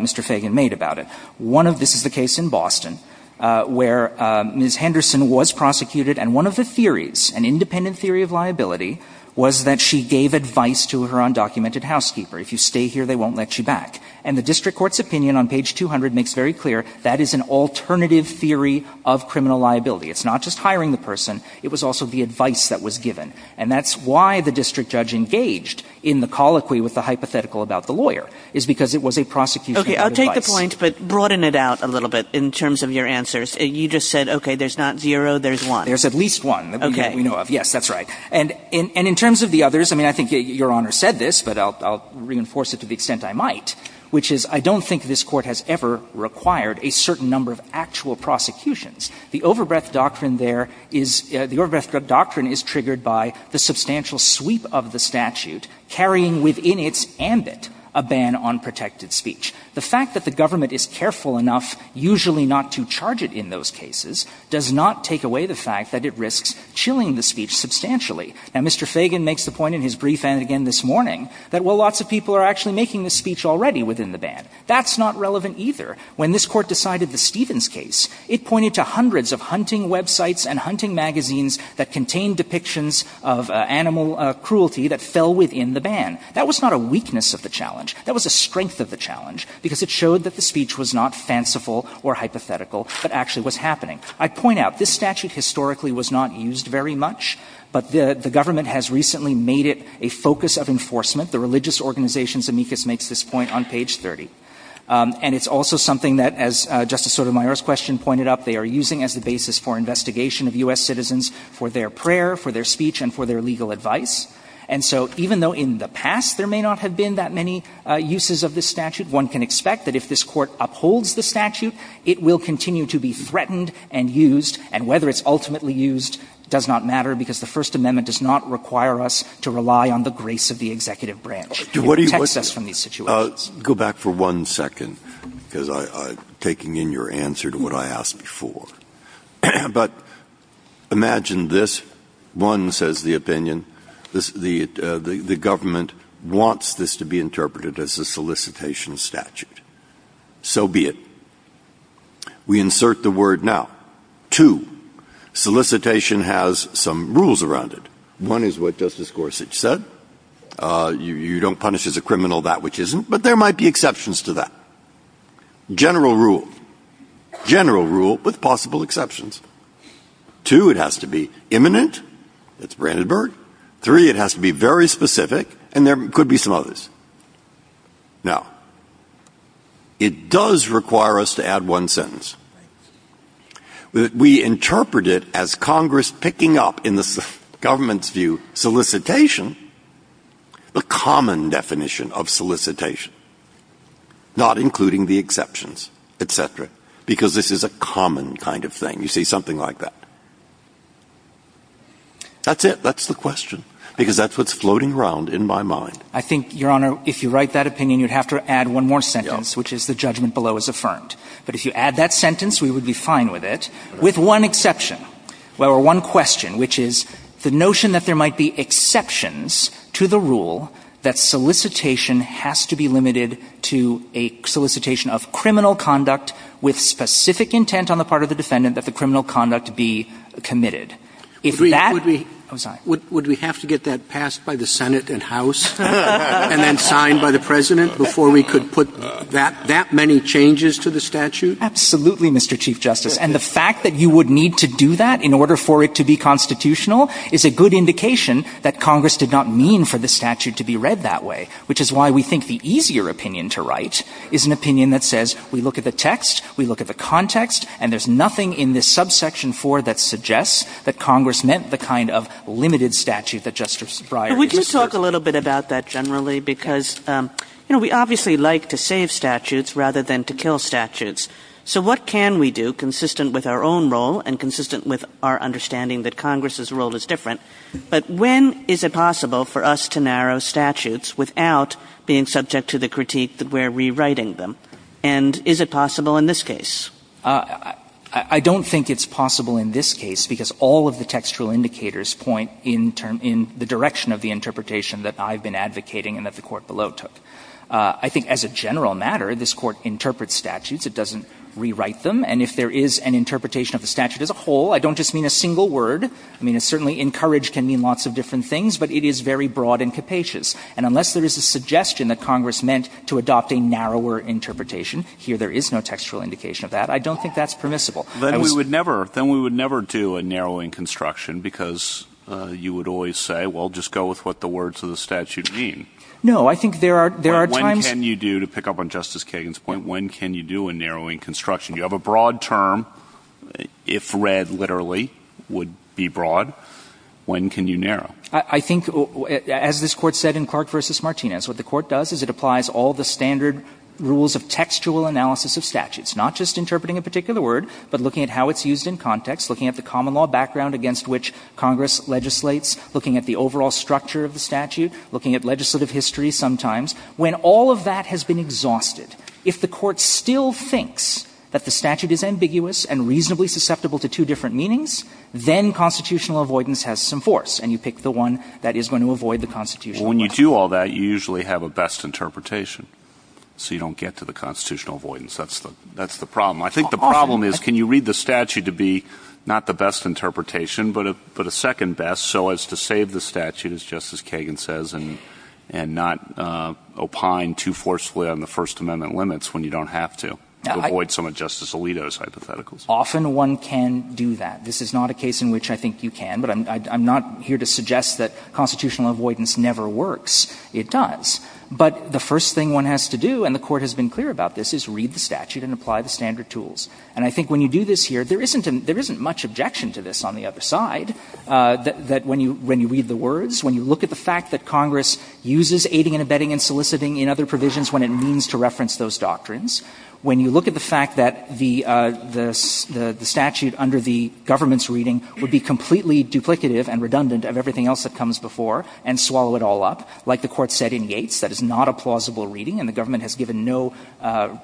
Mr. Fagan made about it. One of this is the case in Boston where Ms. Henderson was prosecuted, and one of the theories, an independent theory of liability, was that she gave advice to her undocumented housekeeper. If you stay here, they won't let you back. And the district court's opinion on page 200 makes very clear that is an alternative theory of criminal liability. It's not just hiring the person. It was also the advice that was given. And that's why the district judge engaged in the colloquy with the hypothetical about the lawyer, is because it was a prosecution of advice. Okay. I'll take the point, but broaden it out a little bit in terms of your answers. You just said, okay, there's not zero, there's one. There's at least one that we know of. Okay. Yes, that's right. And in terms of the others, I mean, I think Your Honor said this, but I'll reinforce it to the extent I might, which is, I don't think this Court has ever required a certain number of actual prosecutions. The overbreadth doctrine there is the overbreadth doctrine is triggered by the substantial sweep of the statute carrying within its ambit a ban on protected speech. The fact that the government is careful enough usually not to charge it in those cases does not take away the fact that it risks chilling the speech substantially. Now, Mr. Fagan makes the point in his brief, and again this morning, that, well, lots of people are actually making this speech already within the ban. That's not relevant either. When this Court decided the Stevens case, it pointed to hundreds of hunting websites and hunting magazines that contained depictions of animal cruelty that fell within the ban. That was not a weakness of the challenge. That was a strength of the challenge, because it showed that the speech was not fanciful or hypothetical, but actually was happening. I point out, this statute historically was not used very much, but the government has recently made it a focus of enforcement. The religious organization Zemeckis makes this point on page 30. And it's also something that, as Justice Sotomayor's question pointed up, they are using as the basis for investigation of U.S. citizens for their prayer, for their speech, and for their legal advice. And so even though in the past there may not have been that many uses of this statute, one can expect that if this Court upholds the statute, it will continue to be threatened and used, and whether it's ultimately used does not matter, because the First Amendment does not require us to rely on the grace of the executive branch. It protects us from these situations. Go back for one second, because I'm taking in your answer to what I asked before. But imagine this. One, says the opinion, the government wants this to be interpreted as a solicitation statute. So be it. We insert the word now. Two, solicitation has some rules around it. One is what Justice Gorsuch said. You don't punish as a criminal that which isn't. But there might be exceptions to that. General rule. General rule, with possible exceptions. Two, it has to be imminent. That's Brandenburg. Three, it has to be very specific. And there could be some others. Now, it does require us to add one sentence. We interpret it as Congress picking up, in the government's view, solicitation, the common definition of solicitation, not including the exceptions, et cetera, because this is a common kind of thing. You see, something like that. That's it. That's the question, because that's what's floating around in my mind. I think, Your Honor, if you write that opinion, you'd have to add one more sentence, which is the judgment below is affirmed. But if you add that sentence, we would be fine with it, with one exception, or one question, which is the notion that there might be exceptions to the rule that solicitation has to be limited to a solicitation of criminal conduct with specific intent on the part of the defendant that the criminal conduct be committed. If that was not. Would we have to get that passed by the Senate and House and then signed by the President before we could put that many changes to the statute? Absolutely, Mr. Chief Justice. And the fact that you would need to do that in order for it to be constitutional is a good indication that Congress did not mean for the statute to be read that way, which is why we think the easier opinion to write is an opinion that says, we look at the text, we look at the context, and there's nothing in this subsection 4 that suggests that Congress meant the kind of limited statute that Justice Breyer is referring to. But would you talk a little bit about that generally? Because, you know, we obviously like to save statutes rather than to kill statutes. So what can we do, consistent with our own role and consistent with our understanding that Congress's role is different, but when is it possible for us to narrow statutes without being subject to the critique that we're rewriting them? And is it possible in this case? I don't think it's possible in this case, because all of the textual indicators point in the direction of the interpretation that I've been advocating and that the Court below took. I think as a general matter, this Court interprets statutes. It doesn't rewrite them. And if there is an interpretation of the statute as a whole, I don't just mean a single word. I mean, it's certainly encouraged can mean lots of different things, but it is very broad and capacious. And unless there is a suggestion that Congress meant to adopt a narrower interpretation here, there is no textual indication of that. I don't think that's permissible. Then we would never do a narrowing construction because you would always say, well, just go with what the words of the statute mean. No, I think there are times... When can you do, to pick up on Justice Kagan's point, when can you do a narrowing construction? You have a broad term, if read literally, would be broad. When can you narrow? I think, as this Court said in Clark v. Martinez, what the Court does is it applies all the standard rules of textual analysis of statutes, not just interpreting a statute, but looking at how it's used in context, looking at the common law background against which Congress legislates, looking at the overall structure of the statute, looking at legislative history sometimes. When all of that has been exhausted, if the Court still thinks that the statute is ambiguous and reasonably susceptible to two different meanings, then constitutional avoidance has some force, and you pick the one that is going to avoid the constitutional avoidance. Well, when you do all that, you usually have a best interpretation, so you don't get to the constitutional avoidance. That's the problem. I think the problem is, can you read the statute to be not the best interpretation but a second best so as to save the statute, as Justice Kagan says, and not opine too forcefully on the First Amendment limits when you don't have to to avoid some of Justice Alito's hypotheticals? Often one can do that. This is not a case in which I think you can, but I'm not here to suggest that constitutional avoidance never works. It does. But the first thing one has to do, and the Court has been clear about this, is read the statute and apply the standard tools. And I think when you do this here, there isn't much objection to this on the other side, that when you read the words, when you look at the fact that Congress uses aiding and abetting and soliciting in other provisions when it means to reference those doctrines, when you look at the fact that the statute under the government's reading would be completely duplicative and redundant of everything else that comes before and swallow it all up, like the Court said in Yates, that is not a plausible reading, and the government has given no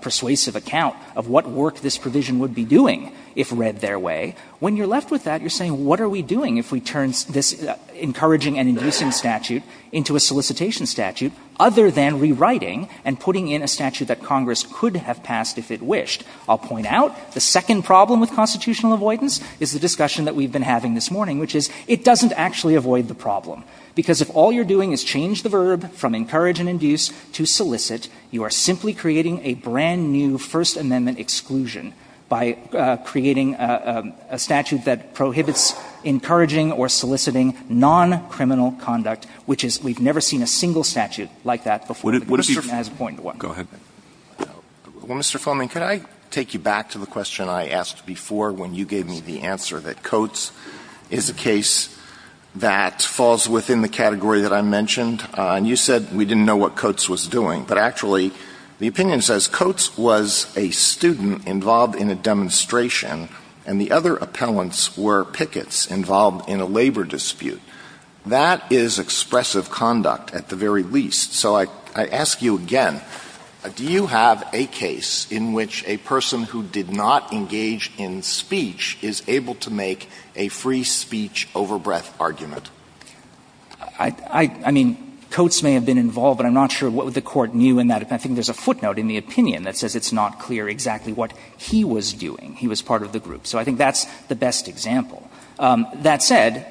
persuasive account of what work this provision would be doing if read their way. When you're left with that, you're saying, what are we doing if we turn this encouraging and inducing statute into a solicitation statute, other than rewriting and putting in a statute that Congress could have passed if it wished? I'll point out, the second problem with constitutional avoidance is the discussion that we've been having this morning, which is, it doesn't actually avoid the you are simply creating a brand-new First Amendment exclusion by creating a statute that prohibits encouraging or soliciting non-criminal conduct, which is we've never seen a single statute like that before. The Constitution has appointed one. Go ahead. Well, Mr. Fleming, can I take you back to the question I asked before when you gave me the answer that Coates is a case that falls within the category that I mentioned? And you said we didn't know what Coates was doing. But actually, the opinion says Coates was a student involved in a demonstration and the other appellants were pickets involved in a labor dispute. That is expressive conduct, at the very least. So I ask you again. Do you have a case in which a person who did not engage in speech is able to make a free speech overbreadth argument? I mean, Coates may have been involved, but I'm not sure what would the Court view in that. I think there's a footnote in the opinion that says it's not clear exactly what he was doing. He was part of the group. So I think that's the best example. That said,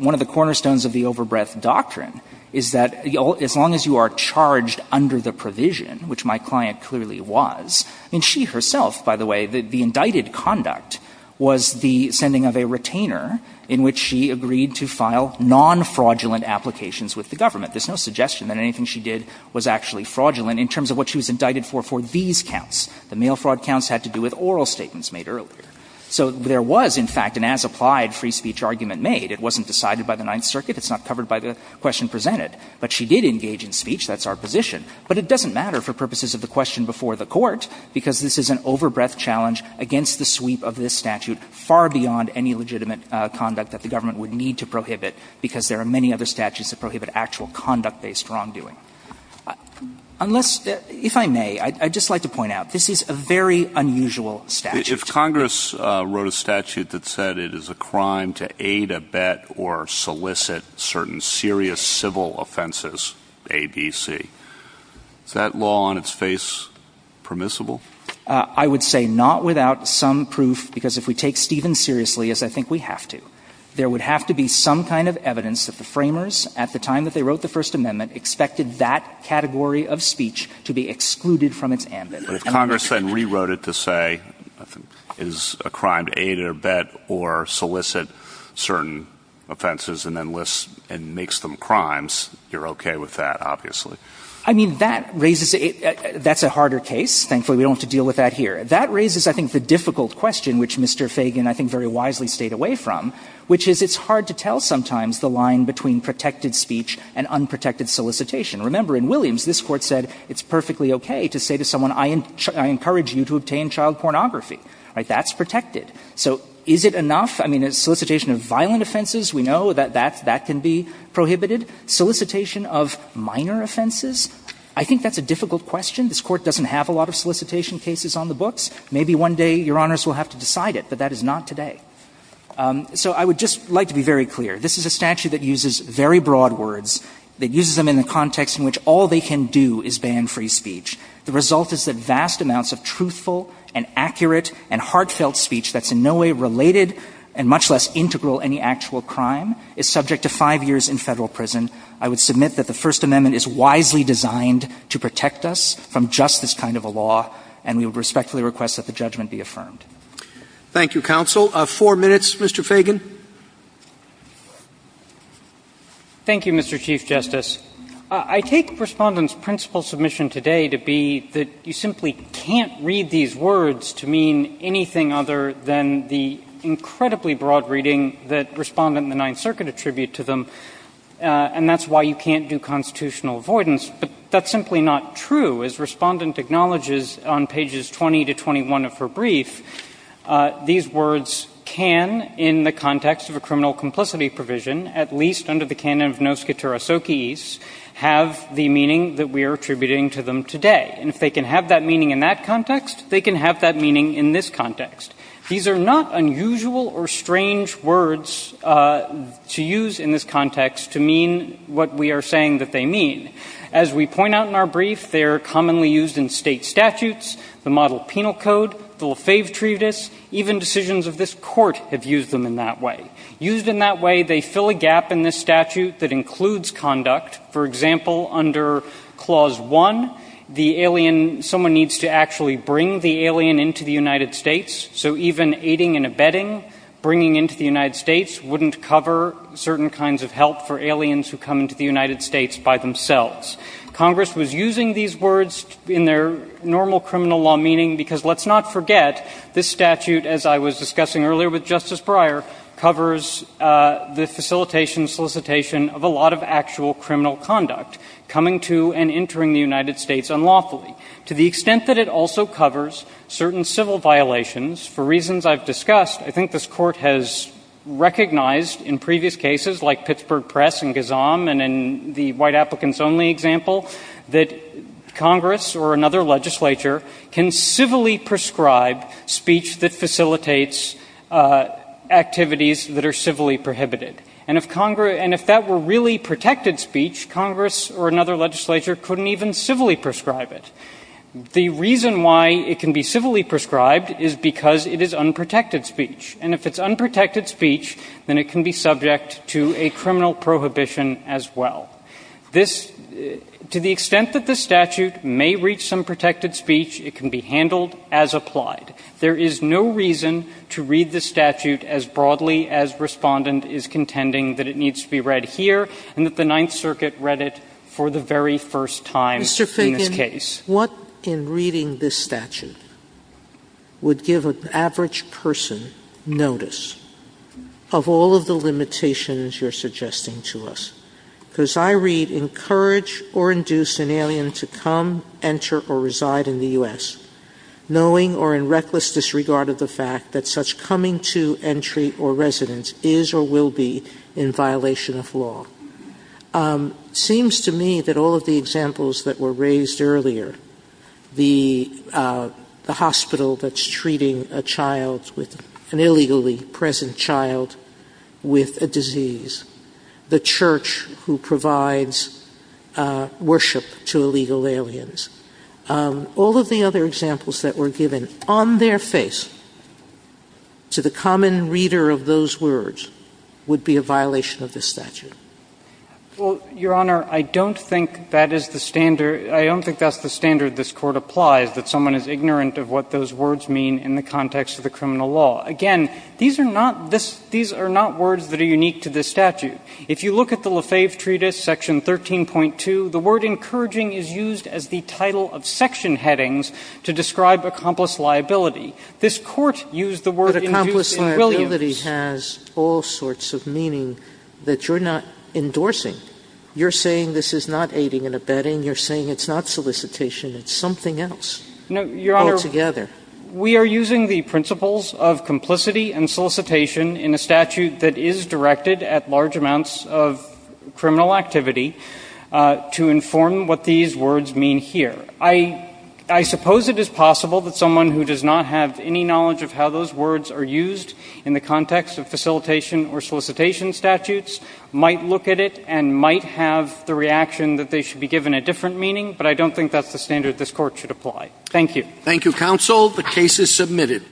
one of the cornerstones of the overbreadth doctrine is that as long as you are charged under the provision, which my client clearly was, I mean, she herself, by the way, the indicted conduct was the sending of a retainer in which she agreed to file non-fraudulent applications with the government. There's no suggestion that anything she did was actually fraudulent in terms of what she was indicted for for these counts. The mail fraud counts had to do with oral statements made earlier. So there was, in fact, an as-applied free speech argument made. It wasn't decided by the Ninth Circuit. It's not covered by the question presented. But she did engage in speech. That's our position. But it doesn't matter for purposes of the question before the Court because this is an overbreadth challenge against the sweep of this statute far beyond any legitimate conduct that the government would need to prohibit because there are many other statutes that prohibit actual conduct-based wrongdoing. Unless, if I may, I'd just like to point out, this is a very unusual statute. If Congress wrote a statute that said it is a crime to aid, abet or solicit certain serious civil offenses, A, B, C, is that law on its face permissible? I would say not without some proof because if we take Stevens seriously, as I think we have to, there would have to be some kind of evidence that the framers, at the time that they wrote the First Amendment, expected that category of speech to be excluded from its ambit. If Congress then rewrote it to say it is a crime to aid, abet or solicit certain offenses and then lists and makes them crimes, you're okay with that, obviously. I mean, that raises a — that's a harder case. Thankfully, we don't have to deal with that here. That raises, I think, the difficult question, which Mr. Fagan, I think, very wisely stayed away from, which is it's hard to tell sometimes the line between protected speech and unprotected solicitation. Remember, in Williams, this Court said it's perfectly okay to say to someone, I encourage you to obtain child pornography. That's protected. So is it enough? I mean, solicitation of violent offenses, we know that that can be prohibited. Solicitation of minor offenses, I think that's a difficult question. This Court doesn't have a lot of solicitation cases on the books. Maybe one day Your Honors will have to decide it, but that is not today. So I would just like to be very clear. This is a statute that uses very broad words, that uses them in the context in which all they can do is ban free speech. The result is that vast amounts of truthful and accurate and heartfelt speech that's in no way related and much less integral any actual crime is subject to five years in Federal prison. I would submit that the First Amendment is wisely designed to protect us from just this kind of a law, and we would respectfully request that the judgment be affirmed. Roberts. Thank you, counsel. Four minutes, Mr. Fagan. Fagan. Thank you, Mr. Chief Justice. I take Respondent's principal submission today to be that you simply can't read these words to mean anything other than the incredibly broad reading that Respondent and the Ninth Circuit attribute to them. And that's why you can't do constitutional avoidance. But that's simply not true. As Respondent acknowledges on pages 20 to 21 of her brief, these words can, in the context of a criminal complicity provision, at least under the canon of noscitur asociis, have the meaning that we are attributing to them today. And if they can have that meaning in that context, they can have that meaning in this context. These are not unusual or strange words to use in this context to mean what we are saying that they mean. As we point out in our brief, they are commonly used in State statutes, the Model Penal Code, the Lefebvre Treatise. Even decisions of this Court have used them in that way. Used in that way, they fill a gap in this statute that includes conduct. For example, under Clause 1, the alien, someone needs to actually bring the alien into the United States. So even aiding and abetting, bringing into the United States, wouldn't cover certain kinds of help for aliens who come into the United States by themselves. Congress was using these words in their normal criminal law meaning because, let's not forget, this statute, as I was discussing earlier with Justice Breyer, covers the facilitation and solicitation of a lot of actual criminal conduct, coming to and entering the United States unlawfully. To the extent that it also covers certain civil violations, for reasons I've discussed, I think this Court has recognized in previous cases like Pittsburgh Press and Gazam and in the white applicants only example, that Congress or another legislature can civilly prescribe speech that facilitates activities that are civilly prohibited. And if that were really protected speech, Congress or another legislature couldn't even civilly prescribe it. The reason why it can be civilly prescribed is because it is unprotected speech. And if it's unprotected speech, then it can be subject to a criminal prohibition as well. This, to the extent that this statute may reach some protected speech, it can be handled as applied. There is no reason to read this statute as broadly as Respondent is contending that it needs to be read here and that the Ninth Circuit read it for the very first time in this case. Mr. Fagan, what in reading this statute would give an average person notice of all of the limitations you're suggesting to us? Because I read, encourage or induce an alien to come, enter or reside in the U.S., knowing or in reckless disregard of the fact that such coming to entry or residence is or will be in violation of law. It seems to me that all of the examples that were raised earlier, the hospital that's treating a child, an illegally present child, with a disease, the church who provides worship to illegal aliens, all of the other examples that were given on their face to the common reader of those words would be a violation of this statute. Well, Your Honor, I don't think that is the standard. I don't think that's the standard this Court applies, that someone is ignorant of what those words mean in the context of the criminal law. Again, these are not words that are unique to this statute. If you look at the Lefebvre Treatise, section 13.2, the word encouraging is used as the title of section headings to describe accomplice liability. This Court used the word induce in Williams. Induce liability has all sorts of meaning that you're not endorsing. You're saying this is not aiding and abetting. You're saying it's not solicitation. It's something else. No, Your Honor. Altogether. We are using the principles of complicity and solicitation in a statute that is directed at large amounts of criminal activity to inform what these words mean here. I suppose it is possible that someone who does not have any knowledge of how those words are used in the context of facilitation or solicitation statutes might look at it and might have the reaction that they should be given a different meaning, but I don't think that's the standard this Court should apply. Thank you. Thank you, Counsel. The case is submitted.